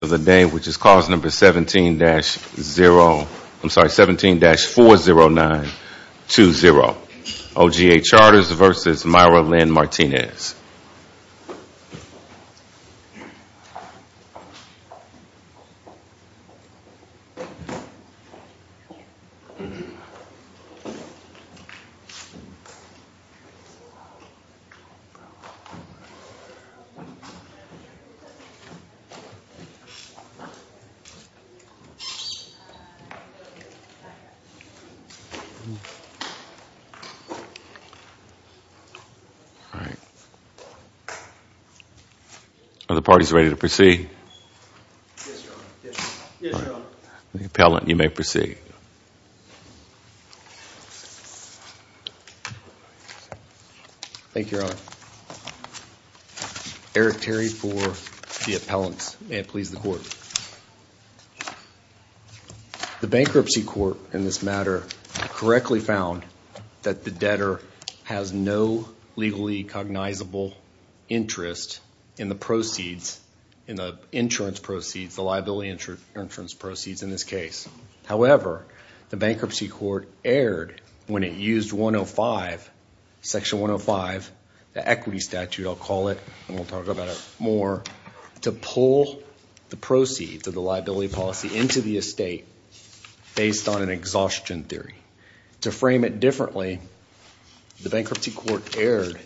which is cause number 17-40920. OGA Charters v. Myra Lynn Martinez. Are the parties ready to proceed? Yes, Your Honor. The appellant, you may proceed. Thank The bankruptcy court in this matter correctly found that the debtor has no legally cognizable interest in the proceeds, in the insurance proceeds, the liability insurance proceeds in this case. However, the bankruptcy court erred when it used 105, Section 105, the equity statute, I'll call it, and we'll talk about it more, to pull the proceeds of the liability policy into the estate based on an exhaustion theory. To frame it differently, the bankruptcy court erred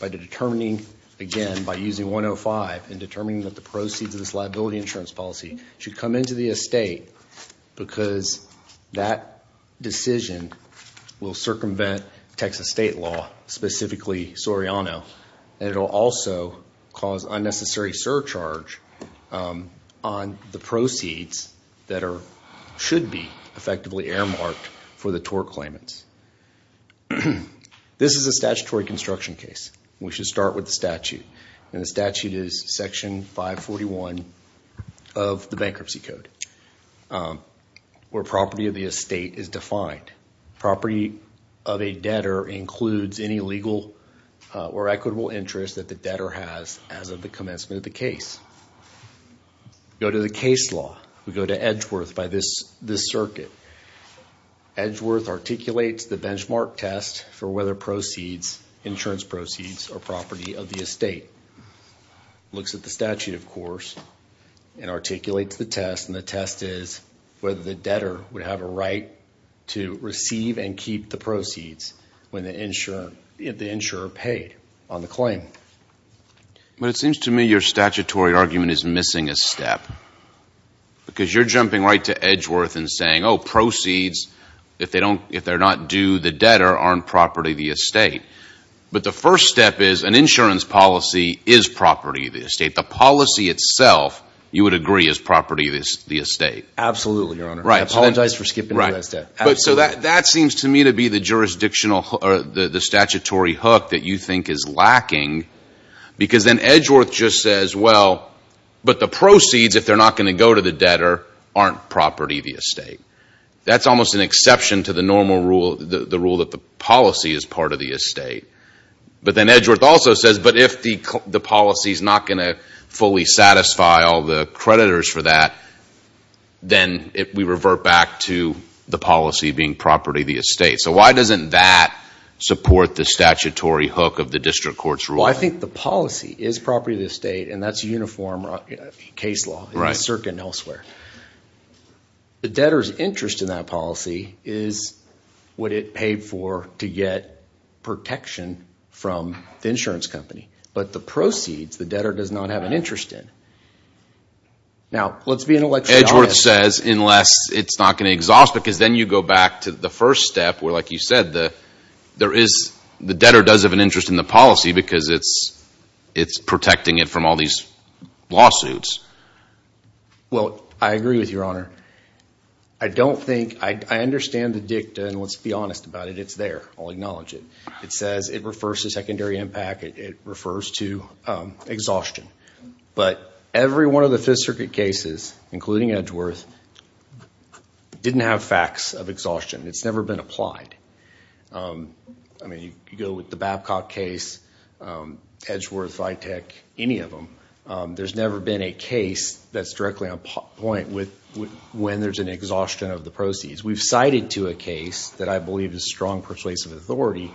by determining, again, by using 105 and determining that the proceeds of this liability insurance policy should come into the estate because that decision will circumvent Texas state law, specifically Soriano, and it will also cause unnecessary surcharge on the proceeds that should be effectively earmarked for the tort claimants. This is a statutory construction case. We should start with the statute, and the statute is Section 541 of the bankruptcy code, where property of the estate is defined. Property of a debtor includes any legal or equitable interest that the debtor has as of the commencement of the case. Go to the case law. We go to Edgeworth by this circuit. Edgeworth articulates the benchmark test for whether proceeds, insurance proceeds, are property of the estate. Looks at the statute, of course, and articulates the test, and the test is whether the debtor would have a right to receive and keep the proceeds when the insurer paid on the claim. It seems to me your statutory argument is missing a step because you're jumping right to Edgeworth and saying, oh, proceeds, if they're not due the debtor, aren't property of the estate. But the first step is, an insurance policy is property of the estate. The policy itself, you would agree, is property of the estate. Absolutely, Your Honor. I apologize for skipping to that step. So that seems to me to be the jurisdictional or the statutory hook that you think is lacking because then Edgeworth just says, well, but the proceeds, if they're not going to go to the debtor, aren't property of the estate. That's almost an exception to the normal rule, the rule that the policy is part of the estate. But then Edgeworth also says, but if the policy is not going to fully satisfy all the creditors for that, then we revert back to the policy being property of the estate. So why doesn't that support the statutory hook of the district court's rule? Well, I think the policy is property of the estate, and that's uniform case law in the it paid for to get protection from the insurance company. But the proceeds, the debtor does not have an interest in. Now, let's be intellectually honest. Edgeworth says, unless it's not going to exhaust, because then you go back to the first step where, like you said, the debtor does have an interest in the policy because it's protecting it from all these lawsuits. Well, I agree with you, Your Honor. I don't think, I understand the dicta, and let's be honest about it. It's there. I'll acknowledge it. It says it refers to secondary impact. It refers to exhaustion. But every one of the Fifth Circuit cases, including Edgeworth, didn't have facts of exhaustion. It's never been applied. I mean, you go with the Babcock case, Edgeworth, Vitek, any of them, there's never been a case that's directly on point when there's an exhaustion of the proceeds. We've cited to a case that I believe is strong persuasive authority.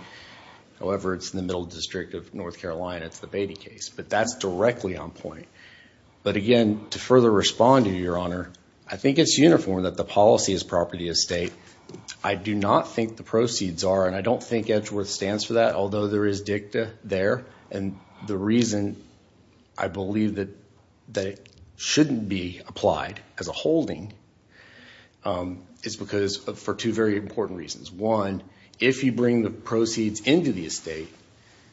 However, it's in the middle district of North Carolina. It's the Beatty case. But that's directly on point. But again, to further respond to you, Your Honor, I think it's uniform that the policy is property of the estate. I do not think the proceeds are, and I don't think Edgeworth stands for that, although there is dicta there. And the reason I believe that it shouldn't be applied as a holding is for two very important reasons. One, if you bring the proceeds into the estate,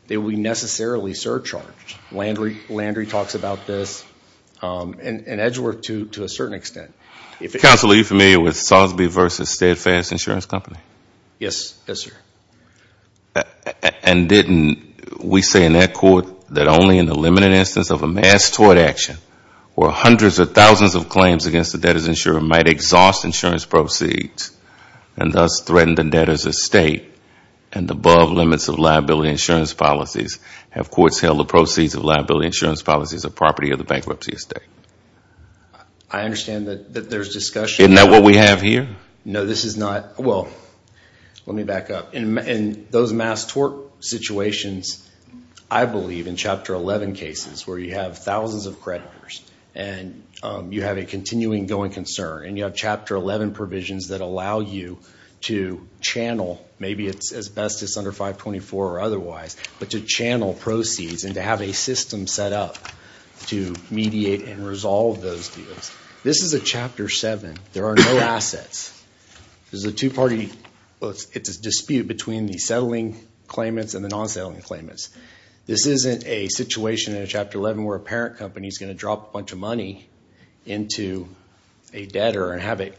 they will be necessarily surcharged. Landry talks about this, and Edgeworth to a certain extent. Counselor, are you familiar with Salisbury v. Steadfast Insurance Company? Yes. Yes, sir. And didn't we say in that court that only in the limited instance of a mass tort action where hundreds of thousands of claims against the debtor's insurer might exhaust insurance proceeds and thus threaten the debtor's estate and above limits of liability insurance policies have courts held the proceeds of liability insurance policies a property of the bankruptcy estate? I understand that there's discussion. Isn't that what we have here? No, this is not. Well, let me back up. In those mass tort situations, I believe in Chapter 11 cases where you have thousands of creditors and you have a continuing going concern and you have Chapter 11 provisions that allow you to channel, maybe it's asbestos under 524 or otherwise, but to channel proceeds and to have a system set up to mediate and There's a two-party dispute between the settling claimants and the non-settling claimants. This isn't a situation in Chapter 11 where a parent company is going to drop a bunch of money into a debtor and have it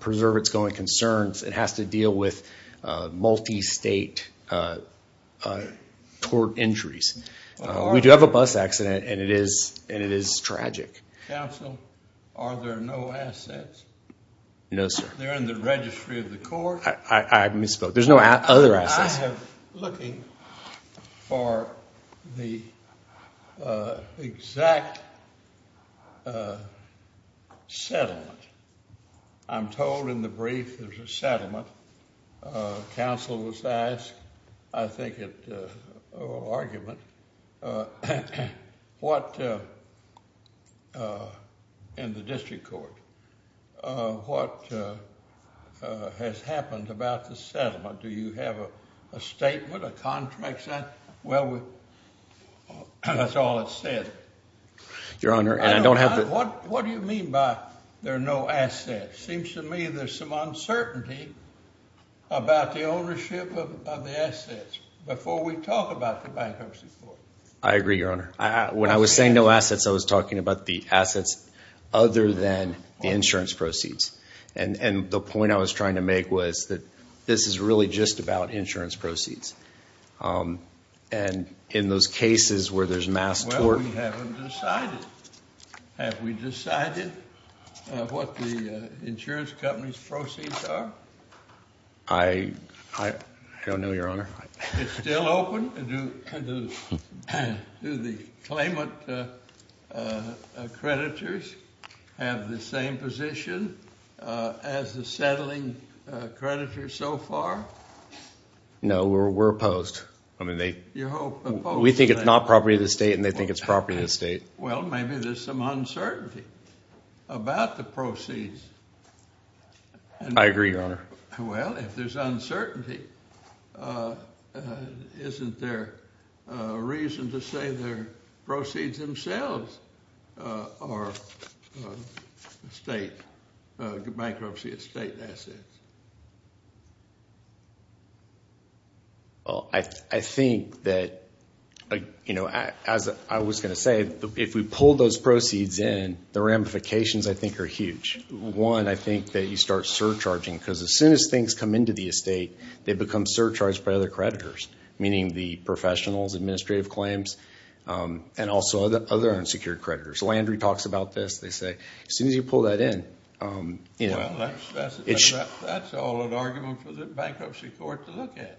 preserve its going concerns. It has to deal with multi-state tort injuries. We do have a bus accident and it is tragic. Counsel, are there no assets? No, sir. They're in the registry of the court. I misspoke. There's no other assets. I am looking for the exact settlement. I'm told in the brief there's a settlement. Counsel was asked, I think it was an argument, in the district court, what has happened about the settlement. Do you have a statement, a contract set? Well, that's all it said. Your Honor, and I don't have the What do you mean by there are no assets? Seems to me there's some uncertainty about the ownership of the assets before we talk about the bankruptcy court. I agree, Your Honor. When I was saying no assets, I was talking about the assets other than the insurance proceeds. And the point I was trying to make was that this is really just about insurance proceeds. And in those cases where there's mass tort We haven't decided. Have we decided what the insurance company's proceeds are? I don't know, Your Honor. It's still open? Do the claimant creditors have the same position as the settling creditors so far? No, we're opposed. You're opposed? We think it's not property of the state and they think it's property of the state. Well, maybe there's some uncertainty about the proceeds. I agree, Your Honor. Well, if there's uncertainty, isn't there a reason to say they're proceeds themselves or bankruptcy of state assets? Well, I think that, as I was going to say, if we pull those proceeds in, the ramifications I think are huge. One, I think that you start surcharging because as soon as things come into the estate, they become surcharged by other creditors, meaning the professionals, administrative claims, and also other unsecured creditors. Landry talks about this. As soon as you pull that in... Well, that's all an argument for the bankruptcy court to look at.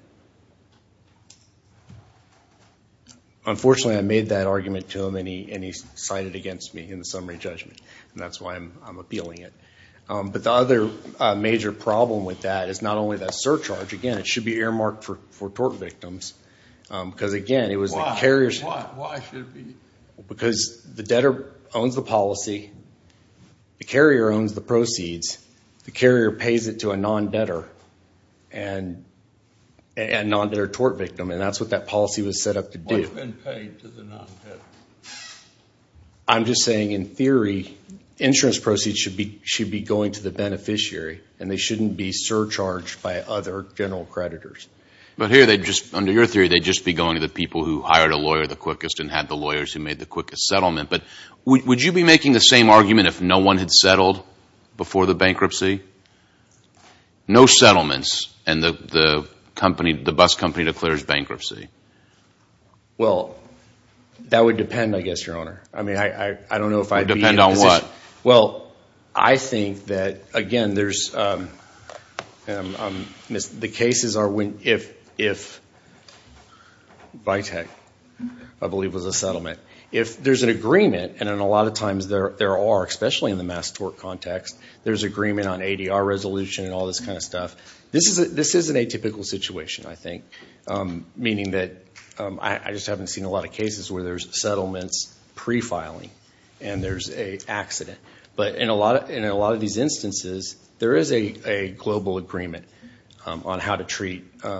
Unfortunately, I made that argument to him and he cited it against me in the summary judgment, and that's why I'm appealing it. But the other major problem with that is not only that surcharge. Again, it should be earmarked for tort victims. Why? Why should it be? Because the debtor owns the policy, the carrier owns the proceeds, the carrier pays it to a non-debtor, a non-debtor tort victim, and that's what that policy was set up to do. What's been paid to the non-debtor? I'm just saying, in theory, insurance proceeds should be going to the beneficiary, and they shouldn't be surcharged by other general creditors. But here, under your theory, they'd just be going to the people who hired a lawyer the quickest and had the lawyers who made the quickest settlement. But would you be making the same argument if no one had settled before the bankruptcy? No settlements, and the bus company declares bankruptcy. Well, that would depend, I guess, Your Honor. It would depend on what? Well, I think that, again, the cases are when, if Vitek, I believe, was a settlement. If there's an agreement, and a lot of times there are, especially in the mass tort context, there's agreement on ADR resolution and all this kind of stuff. This isn't a typical situation, I think. Meaning that, I just haven't seen a lot of cases where there's settlements prefiling, and there's an accident. But in a lot of these instances, there is a global agreement on how to treat and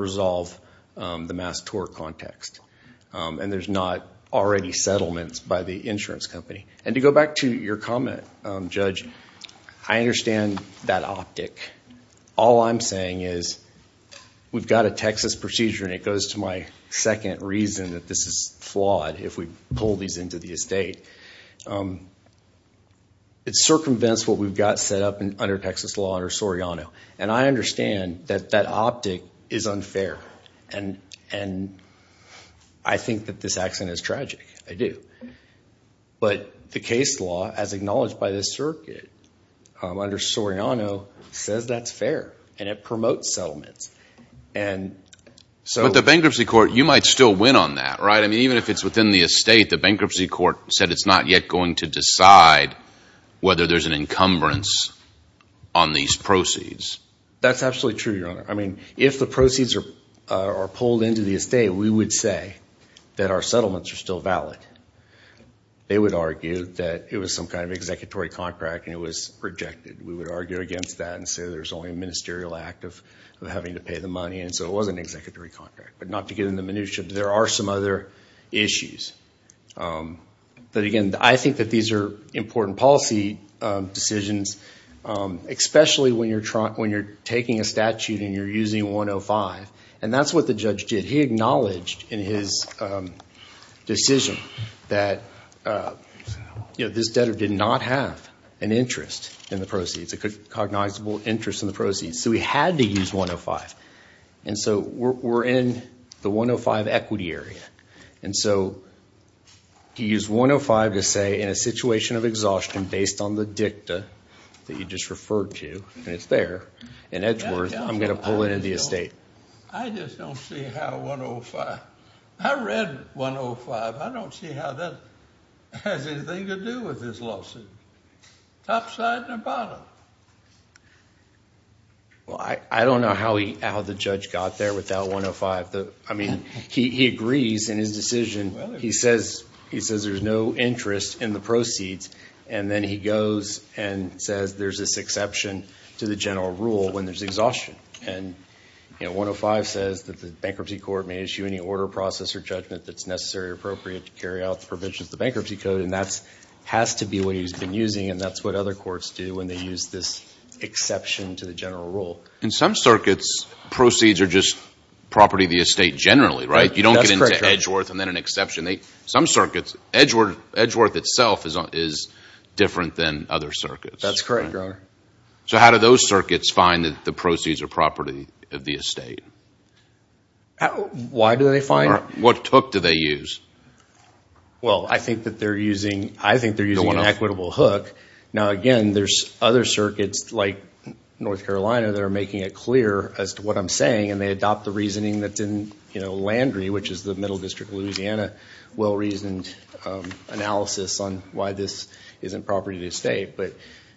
resolve the mass tort context. And there's not already settlements by the insurance company. And to go back to your comment, Judge, I understand that optic. All I'm saying is, we've got a Texas procedure, and it goes to my second reason that this is flawed if we pull these into the estate. It circumvents what we've got set up under Texas law under Soriano. And I understand that that optic is unfair. And I think that this accident is tragic. I do. But the case law, as acknowledged by this circuit, under Soriano, says that's fair. And it promotes settlements. But the bankruptcy court, you might still win on that, right? I mean, even if it's within the estate, the bankruptcy court said it's not yet going to decide whether there's an encumbrance on these proceeds. That's absolutely true, Your Honor. I mean, if the proceeds are pulled into the estate, we would say that our settlements are still valid. They would argue that it was some kind of executory contract, and it was rejected. We would argue against that and say there's only a ministerial act of having to pay the money, and so it was an executory contract. But not to get into minutia, there are some other issues. But again, I think that these are important policy decisions, especially when you're taking a statute and you're using 105. And that's what the judge did. He acknowledged in his decision that this debtor did not have an interest in the proceeds. A cognizable interest in the proceeds. So he had to use 105. And so we're in the 105 equity area. And so to use 105 to say in a situation of exhaustion based on the dicta that you just referred to, and it's there, in Edgeworth, I'm going to pull it into the estate. I just don't see how 105. I read 105. I don't see how that has anything to do with this lawsuit. Topside or bottom? Well, I don't know how the judge got there with that 105. I mean, he agrees in his decision. He says there's no interest in the proceeds. And then he goes and says there's this exception to the general rule when there's exhaustion. And 105 says that the bankruptcy court may issue any order, process, or judgment that's necessary or appropriate to carry out the provisions of the bankruptcy code. And that has to be what he's been using. And that's what other courts do when they use this exception to the general rule. In some circuits, proceeds are just property of the estate generally, right? That's correct, Your Honor. You don't get into Edgeworth and then an exception. Some circuits, Edgeworth itself is different than other circuits. That's correct, Your Honor. So how do those circuits find that the proceeds are property of the estate? Why do they find? What took do they use? Well, I think that they're using an equitable hook. Now again, there's other circuits like North Carolina that are making it clear as to what I'm saying. And they adopt the reasoning that's in Landry, which is the Middle District of Louisiana, well-reasoned analysis on why this isn't property of the estate. But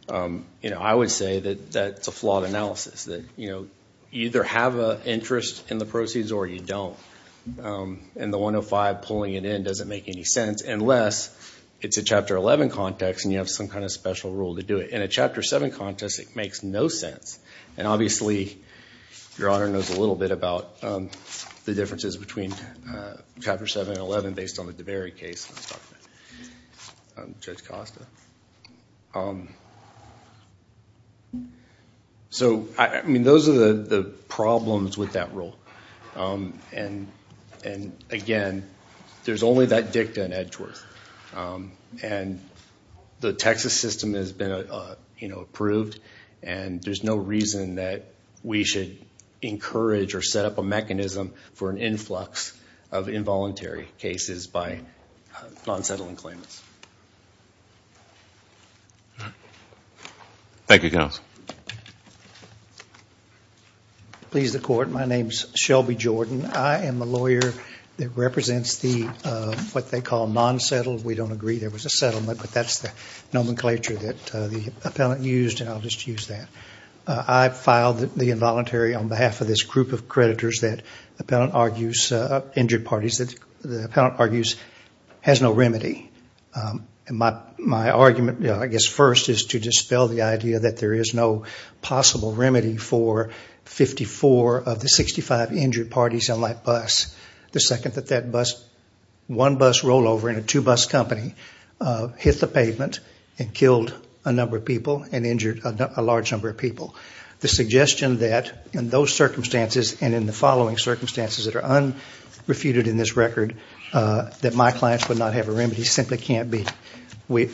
I would say that that's a flawed analysis. You either have an interest in the proceeds or you don't. And the 105 pulling it in doesn't make any sense unless it's a Chapter 11 context and you have some kind of special rule to do it. In a Chapter 7 context, it makes no sense. And obviously, Your Honor knows a little bit about the differences between Chapter 7 and 11 based on the Davery case. Judge Costa. So, I mean, those are the problems with that rule. And again, there's only that dicta in Edgeworth. And the Texas system has been approved and there's no reason that we should encourage or set up a mechanism for an influx of involuntary cases by non-settling claimants. Thank you, Counsel. Please, the Court. My name is Shelby Jordan. I am a lawyer that represents what they call non-settled. We don't agree there was a settlement, but that's the nomenclature that the appellant used, and I'll just use that. I filed the involuntary on behalf of this group of creditors that the appellant argues has no remedy. My argument, I guess, first is to dispel the idea that there is no possible remedy for 54 of the 65 injured parties on that bus. The second, that one bus rollover in a two-bus company hit the pavement and killed a number of people and injured a large number of people. The suggestion that in those circumstances and in the following circumstances that are unrefuted in this record, that my clients would not have a remedy simply can't be.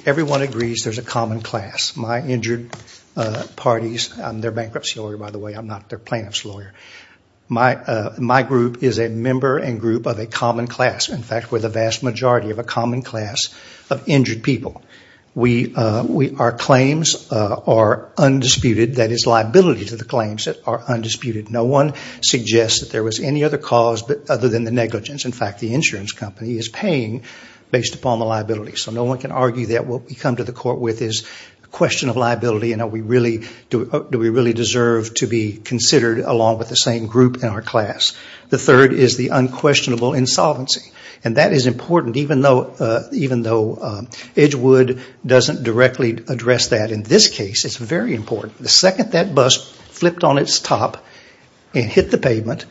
Everyone agrees there's a common class. My injured parties, I'm their bankruptcy lawyer, by the way, I'm not their plaintiff's lawyer. My group is a member and group of a common class. In fact, we're the vast majority of a common class of injured people. Our claims are undisputed. That is liability to the claims that are undisputed. No one suggests that there was any other cause other than the negligence. In fact, the insurance company is paying based upon the liability. No one can argue that what we come to the court with is a question of liability and do we really deserve to be considered along with the same group in our class. The third is the unquestionable insolvency. That is important even though Edgewood doesn't directly address that. In this case, it's very important. The second that bus flipped on its top and hit the pavement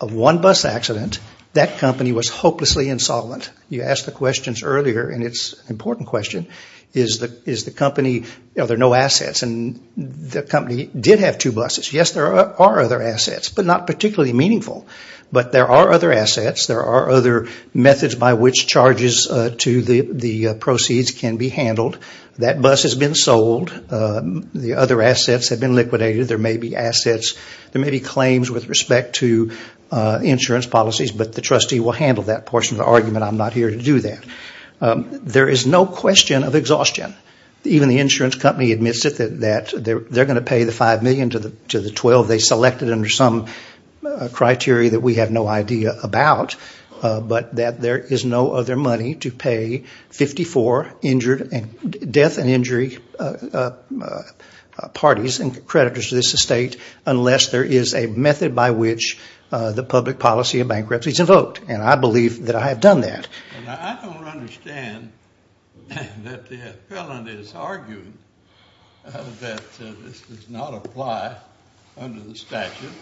of one bus accident, that company was hopelessly insolvent. It's an important question. The company did have two buses. Yes, there are other assets but not particularly meaningful. There are other assets. There are other methods by which charges to the proceeds can be handled. That bus has been sold. The other assets have been liquidated. There may be claims with respect to insurance policies but the trustee will handle that portion of the argument. I'm not here to do that. There is no question of exhaustion. Even the insurance company admits that they are going to pay the $5 million to the $12 million they selected under some criteria that we have no idea about but that there is no other money to pay 54 death and injury parties and creditors to this estate unless there is a method by which the public policy of bankruptcy is invoked. I believe that I have done that. I don't understand that the appellant is arguing that this does not apply under the statute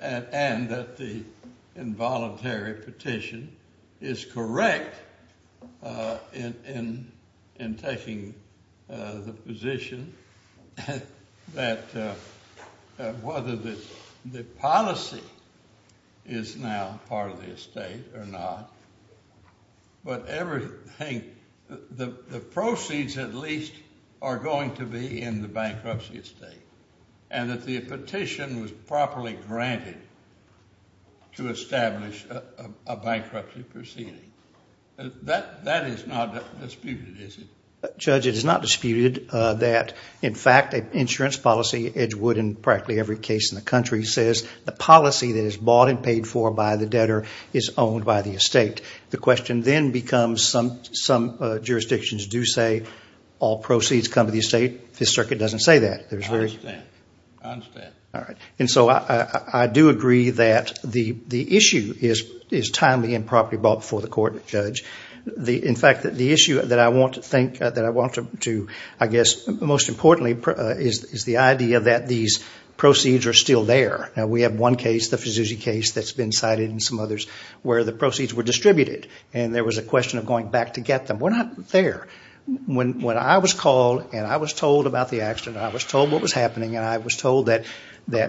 and that the involuntary petition is correct in taking the position that whether the policy is now part of the estate or not but the proceeds at least are going to be in the bankruptcy estate and that the petition was properly granted to establish a bankruptcy proceeding. That is not disputed, is it? Judge, it is not disputed that the policy that is bought and paid for by the debtor is owned by the estate. The question then becomes, some jurisdictions do say all proceeds come to the estate. The circuit does not say that. I do agree that the issue is timely and properly brought before the court, Judge. In fact, the issue that I want to address most importantly is the idea that these proceeds are still there. We have one case, the Fuzuzi case, that has been cited and some others where the proceeds were distributed and there was a question of going back to get them. We are not there. When I was called and I was told about the accident and I was told what was happening and I was told that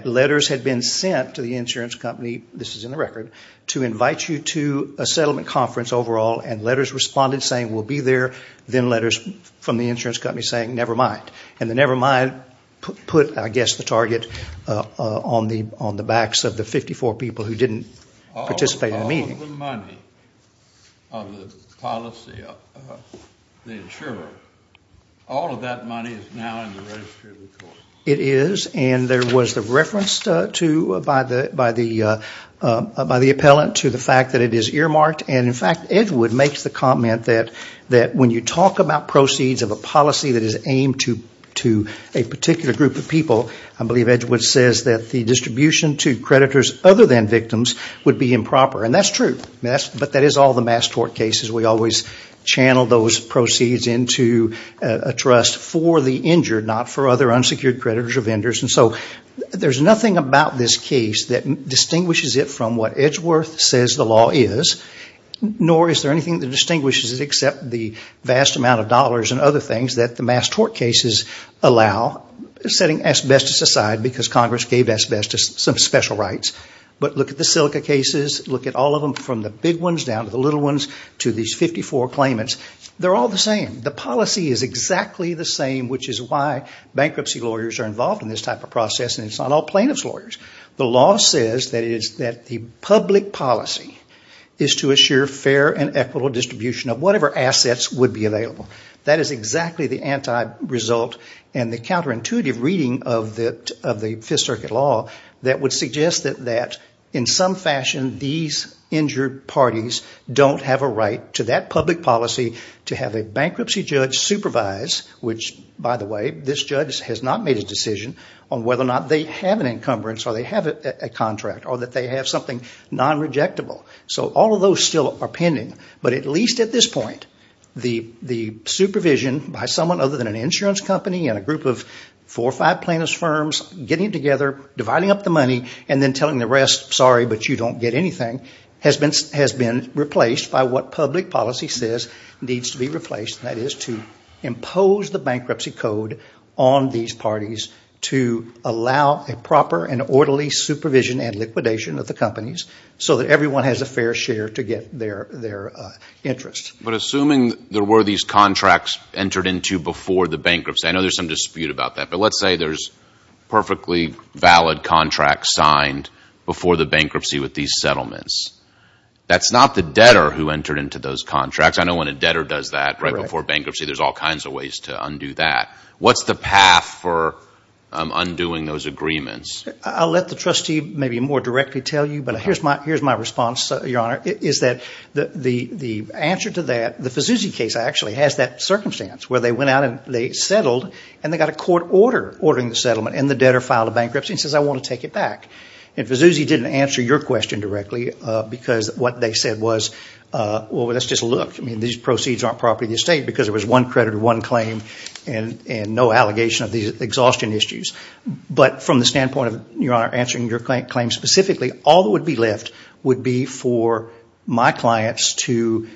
letters had been sent to the insurance company, this is in the record, to invite you to a settlement conference overall and letters responded saying we will be there then letters from the insurance company saying never mind. And the never mind put, I guess, the target on the backs of the 54 people who did not participate in the meeting. All of the money of the policy of the insurer, all of that money is now in the registry of the court. It is and there was the reference by the appellant to the fact that it is earmarked and, in fact, Edgewood makes the comment that when you talk about proceeds of a policy that is aimed to a particular group of people, I believe Edgewood says that the distribution to creditors other than victims would be improper. And that is true. But that is all the mass tort cases. We always channel those proceeds into a trust for the injured, not for other unsecured creditors or vendors. So there is nothing about this case that distinguishes it from what Edgeworth says the law is, nor is there anything that distinguishes it except the vast amount of dollars and other things that the mass tort cases allow, setting asbestos aside because Congress gave asbestos some special rights. But look at the silica cases, look at all of them from the big ones down to the little ones to these 54 claimants. They are all the same. The policy is exactly the same, which is why bankruptcy lawyers are involved in this type of process and it is not all plaintiff's lawyers. The law says that the public policy is to assure fair and equitable distribution of whatever assets would be available. That is exactly the anti-result and the counterintuitive reading of the Fifth Circuit law that would suggest that in some fashion these injured parties don't have a right to that public policy to have a bankruptcy judge supervise, which by the way this judge has not made a decision on whether or not they have an encumbrance or they have a contract or that they have something non-rejectable. So all of those still are pending, but at least at this point the supervision by someone other than an insurance company and a group of four or five plaintiff's firms getting together, dividing up the money, and then telling the rest, sorry but you don't get anything, has been replaced by what public policy says needs to be replaced, and that is to impose the bankruptcy code on these parties to allow a proper and orderly supervision and liquidation of the companies so that everyone has a fair share to get their interest. But assuming there were these contracts entered into before the bankruptcy, I know there is some dispute about that, but let's say there is perfectly valid contracts signed before the bankruptcy with these settlements. That is not the debtor who entered into those contracts. I know when a debtor does that right before bankruptcy there are all kinds of ways to undo that. What is the process of undoing those agreements? I will let the trustee maybe more directly tell you, but here is my response, Your Honor, is that the answer to that, the Vazuzi case actually has that circumstance where they went out and they settled and they got a court order ordering the settlement and the debtor filed a bankruptcy and says I want to take it back. And Vazuzi didn't answer your question directly because what they said was, well let's just look. I mean these proceeds aren't property of the estate because it was one creditor, one claim, and no allegation of these exhaustion issues. But from the standpoint of, Your Honor, answering your claim specifically, all that would be left would be for my clients to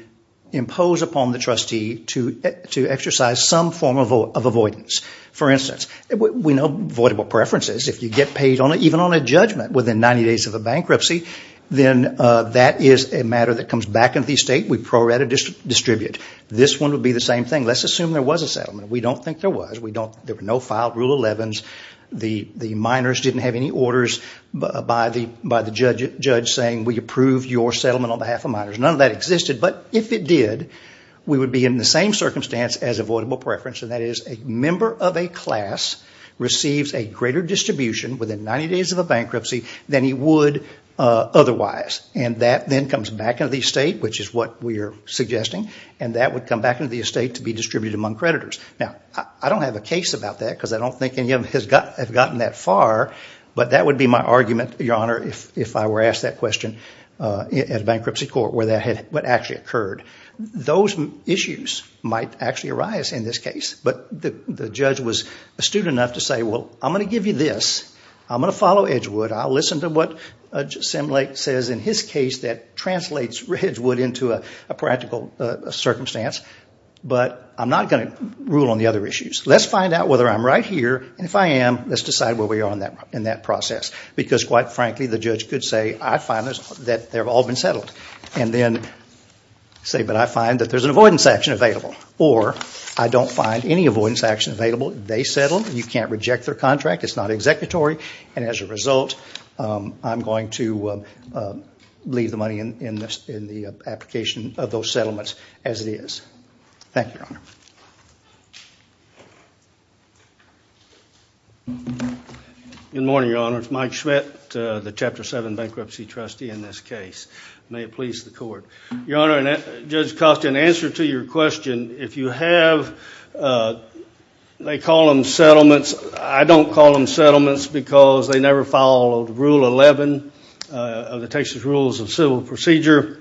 impose upon the trustee to exercise some form of avoidance. For instance, we know avoidable preferences. If you get paid even on a judgment within 90 days of a bankruptcy, then that is a matter that comes back into the estate. We pro rata distribute. This one would be the same thing. Let's assume there was a settlement. We don't think there was. There were no filed Rule 11s. The minors didn't have any orders by the judge saying we approve your settlement on behalf of minors. None of that existed, but if it did, we would be in the same circumstance as avoidable preference, and that is a member of a class receives a greater distribution within 90 days of a bankruptcy than he would otherwise. And that then comes back into the estate, which is what we are suggesting, and that would come back into the estate to be distributed among creditors. Now, I don't have a case about that because I don't think any of them have gotten that far, but that would be my argument, Your Honor, if I were asked that question at a bankruptcy court where that had actually occurred. Those issues might actually arise in this case, but the judge was astute enough to say, well, I'm going to give you this. I'm going to follow Edgewood. I'll listen to what Sam Lake says in his case that translates Edgewood into a practical circumstance, but I'm not going to rule on the other issues. Let's find out whether I'm right here, and if I am, let's decide where we are in that process. Because quite frankly, the judge could say, I find that they've all been settled. And then say, but I find that there's an avoidance action available. Or, I don't find any avoidance action available. They settled. You can't reject their contract. It's not executory. And as a result, I'm going to leave the money in the application of those settlements as it is. Thank you, Your Honor. Good morning, Your Honor. It's Mike Schmidt, the Chapter 7 Bankruptcy Trustee in this case. May it please the Court. Your Honor, Judge Costa, in answer to your question, if you have, they call them settlements. I don't call them settlements because they never follow Rule 11 of the Texas Rules of Civil Procedure.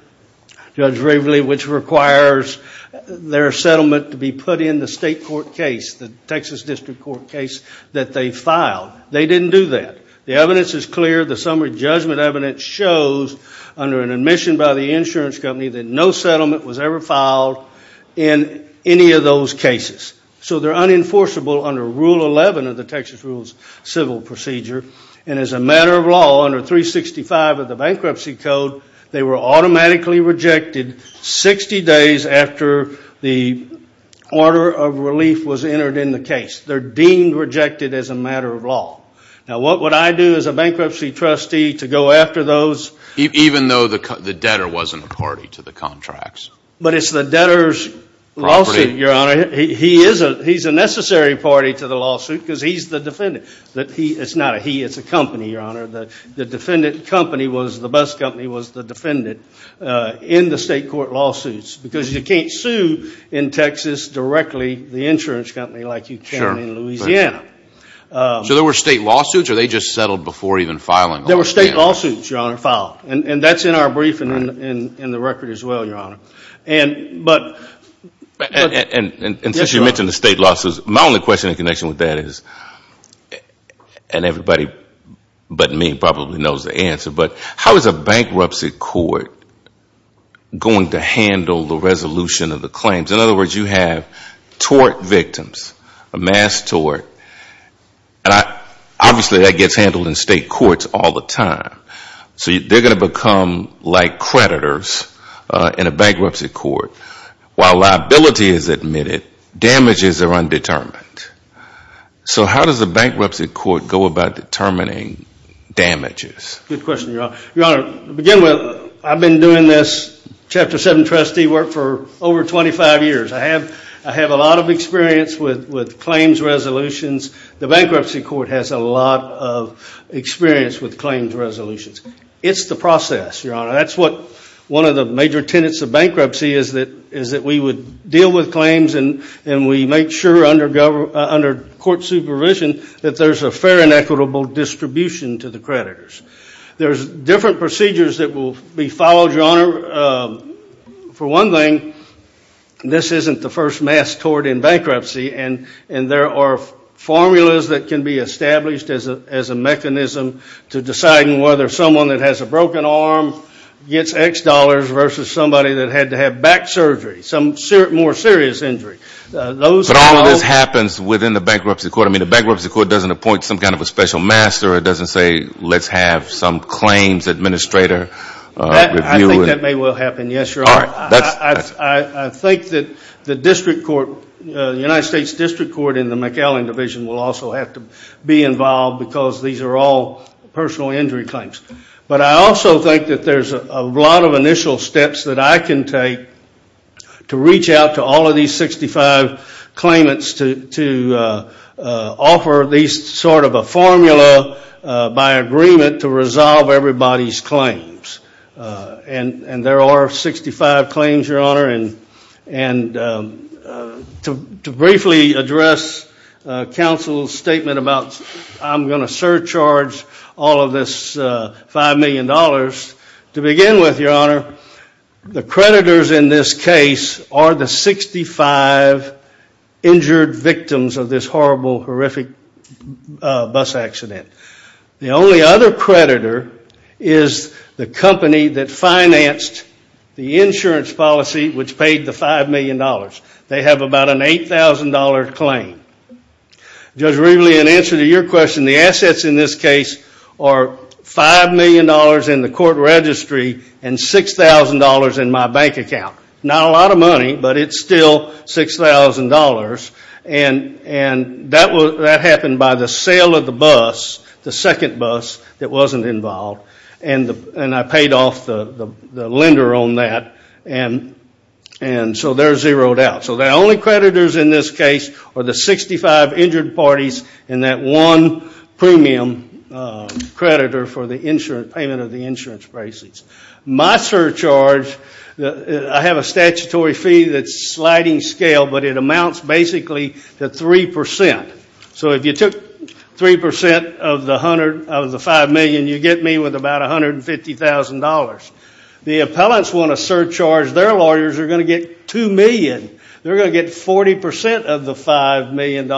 Judge Raveley, which requires their settlement to be put in the state court case, the Texas District Court case that they filed. They didn't do that. The evidence is clear. The summary judgment evidence shows under an admission by the insurance company that no settlement was ever filed in any of those cases. So they're unenforceable under Rule 11 of the Texas Rules of Civil Procedure. And as a matter of law, under 365 of the Bankruptcy Code, they were automatically rejected 60 days after the order of relief was entered in the case. They're deemed rejected as a matter of law. Now what would I do as a bankruptcy trustee to go after those? Even though the debtor wasn't a party to the contracts. But it's the debtor's lawsuit, Your Honor. He's a necessary party to the lawsuit because he's the defendant. It's not a he, it's a company, Your Honor. The bus company was the defendant in the state court lawsuits because you can't sue in Texas directly the insurance company like you can in Louisiana. So there were state lawsuits or they just settled before even filing? There were state lawsuits, Your Honor, filed. And that's in our brief and in the record as well, Your Honor. And since you mentioned the state lawsuits, my only question in connection with that is, and everybody but me probably knows the answer, but how is a bankruptcy court going to handle the resolution of the claims? In other words, you have tort victims, a mass tort, and obviously that gets handled in state courts all the time. So they're going to become like creditors in a bankruptcy court. While liability is admitted, damages are undetermined. So how does a bankruptcy court go about determining damages? Good question, Your Honor. Your Honor, to begin with, I've been doing this chapter seven trustee work for over 25 years. I have a lot of experience with claims resolutions. The bankruptcy court has a lot of experience with claims resolutions. It's the process, Your Honor. That's what one of the major tenets of bankruptcy is that we would deal with claims and we make sure under court supervision that there's a fair and equitable distribution to the creditors. There's different procedures that will be followed, Your Honor. For one thing, this isn't the first mass tort in bankruptcy, and there are formulas that can be established as a mechanism to deciding whether someone that has a broken arm gets X dollars versus somebody that had to have back surgery, some more serious injury. But all of this happens within the bankruptcy court. I mean, the bankruptcy court doesn't appoint some kind of a special master. It doesn't say let's have some claims administrator review it. I think that may well happen, yes, Your Honor. I think that the district court, the United States District Court in the McAllen Division will also have to be involved because these are all personal injury claims. But I also think that there's a lot of initial steps that I can take to reach out to all of these 65 claimants to offer these sort of a formula by agreement to resolve everybody's claims. And there are 65 claims, Your Honor, and to briefly address counsel's statement about I'm going to surcharge all of this $5 million, to begin with, Your Honor, the creditors in this case are the 65 injured victims of this horrible, horrific bus accident. The only other creditor is the company that financed the insurance policy which paid the $5 million. They have about an $8,000 claim. Judge Rivlin, in answer to your question, the assets in this case are $5 million in the court registry and $6,000 in my bank account. Not a lot of money but it's still $6,000 and that happened by the sale of the bus, the second bus that wasn't involved and I paid off the lender on that and so they're zeroed out. So the only creditors in this case are the 65 injured parties and that one premium creditor for the payment of the insurance basis. My surcharge I have a statutory fee that's sliding scale but it amounts basically to 3%. So if you took 3% of the $5 million, you get me with about $150,000. The appellants want to surcharge their lawyers they're going to get $2 million. They're going to get 40% of the $5 million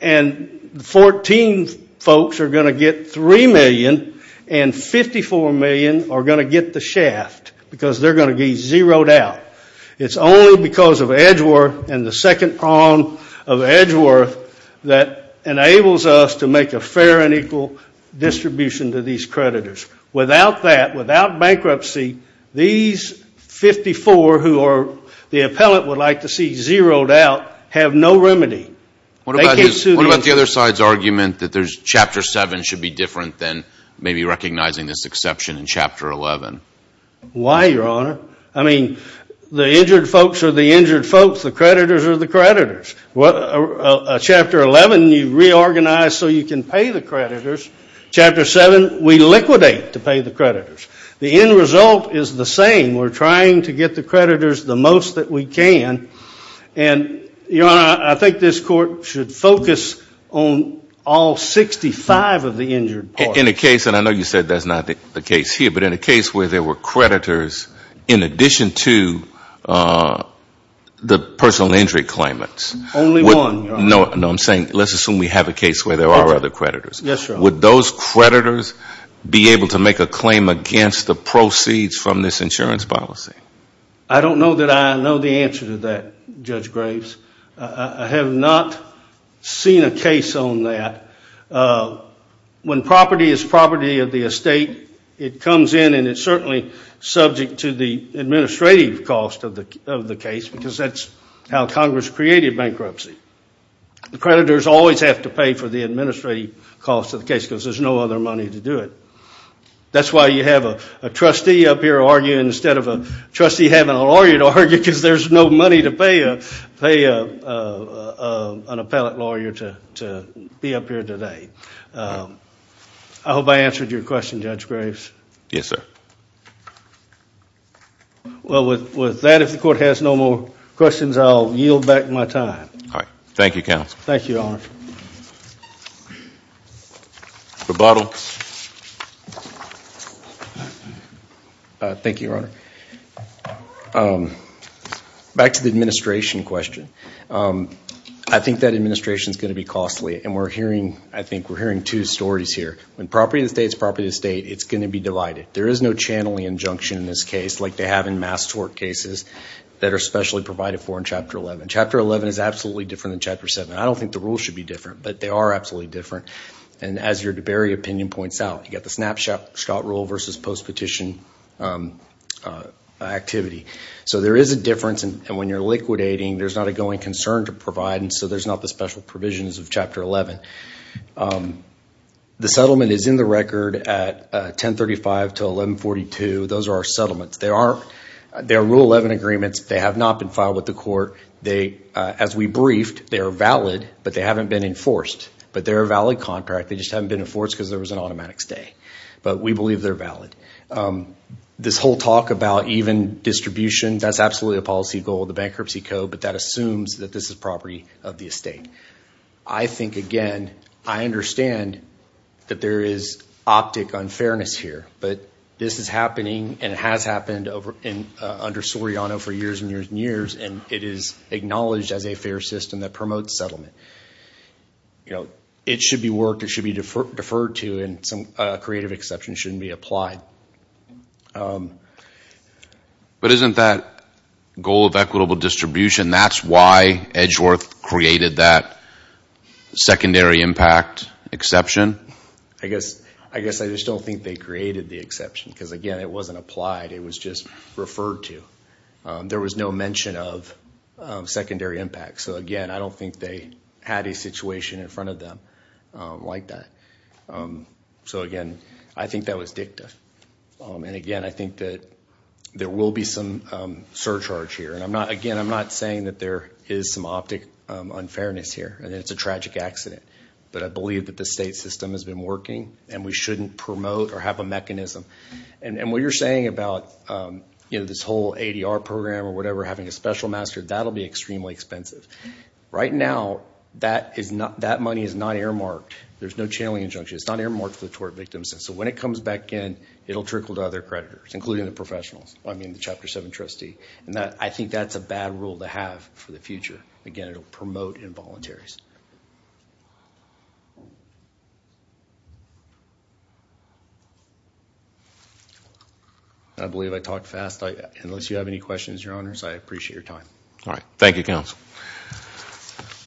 and 14 folks are going to get 3 million and 54 million are going to get the shaft because they're going to be zeroed out. It's only because of Edgeworth and the second prong of Edgeworth that enables us to make a fair and equal distribution to these creditors. Without that, without bankruptcy these 54 who are the appellant would like to see zeroed out have no remedy. What about the other side's argument that Chapter 7 should be different than maybe recognizing this exception in Chapter 11? Why, Your Honor? I mean the injured folks are the injured folks the creditors are the creditors. Chapter 11 you reorganize so you can pay the creditors. Chapter 7 we liquidate to pay the creditors. The end result is the same. We're trying to get the creditors the most that we can. Your Honor, I think this court should focus on all 65 of the injured. In a case, and I know you said that's not the case here, but in a case where there were creditors in addition to the personal injury claimants. Only one, Your Honor. No, I'm saying let's assume we have a case where there are other creditors. Yes, Your Honor. Would those creditors be able to make a claim against the I don't know that I know the answer to that, Judge Graves. I have not seen a case on that. When property is property of the estate, it comes in and it's certainly subject to the administrative cost of the case because that's how Congress created bankruptcy. The creditors always have to pay for the administrative cost of the case because there's no other money to do it. That's why you have a trustee up here arguing instead of a trustee having a lawyer to argue because there's no money to pay an appellate lawyer to be up here today. I hope I answered your question, Judge Graves. Yes, sir. Well, with that, if the court has no more questions, I'll yield back my time. Thank you, counsel. Thank you, Your Honor. Rebuttal. Thank you, Your Honor. Back to the administration question. I think that administration is going to be costly and we're hearing two stories here. When property of the estate is property of the estate, it's going to be divided. There is no channeling injunction in this case like they have in mass tort cases that are specially provided for in Chapter 11. Chapter 11 is absolutely different than Chapter 7. I don't think the rules should be different, but they are absolutely different. As your DeBerry opinion points out, you've got the snapshot rule versus post-petition activity. There is a difference, and when you're liquidating, there's not a going concern to provide, so there's not the special provisions of Chapter 11. The settlement is in the record at 1035 to 1142. Those are our settlements. They are Rule 11 agreements. They have not been filed with the court. As we briefed, they are valid, but they aren't a valid contract. They just haven't been enforced because there was an automatic stay. We believe they're valid. This whole talk about even distribution, that's absolutely a policy goal of the Bankruptcy Code, but that assumes that this is property of the estate. I think, again, I understand that there is optic unfairness here, but this is happening, and it has happened under Soriano for years and years and years, and it is acknowledged as a fair system that promotes settlement. It should be worked, it should be deferred to, and some creative exception shouldn't be applied. But isn't that goal of equitable distribution, that's why Edgeworth created that secondary impact exception? I guess I just don't think they created the exception because, again, it wasn't applied. It was just referred to. There was no mention of secondary impact. Again, I don't think they had a situation in front of them like that. Again, I think that was dicta. Again, I think that there will be some surcharge here. Again, I'm not saying that there is some optic unfairness here, and it's a tragic accident, but I believe that the estate system has been working, and we shouldn't promote or have a mechanism. What you're saying about this whole ADR program or whatever, having a special master, that'll be extremely expensive. Right now, that money is not earmarked. There's no channeling injunction. It's not earmarked for the tort victims, and so when it comes back in, it'll trickle to other creditors, including the professionals, I mean the Chapter 7 trustee. I think that's a bad rule to have for the future. Again, it'll promote involuntaries. Thank you. I believe I talked fast. Unless you have any questions, Your Honors, I appreciate your time. Thank you, Counsel.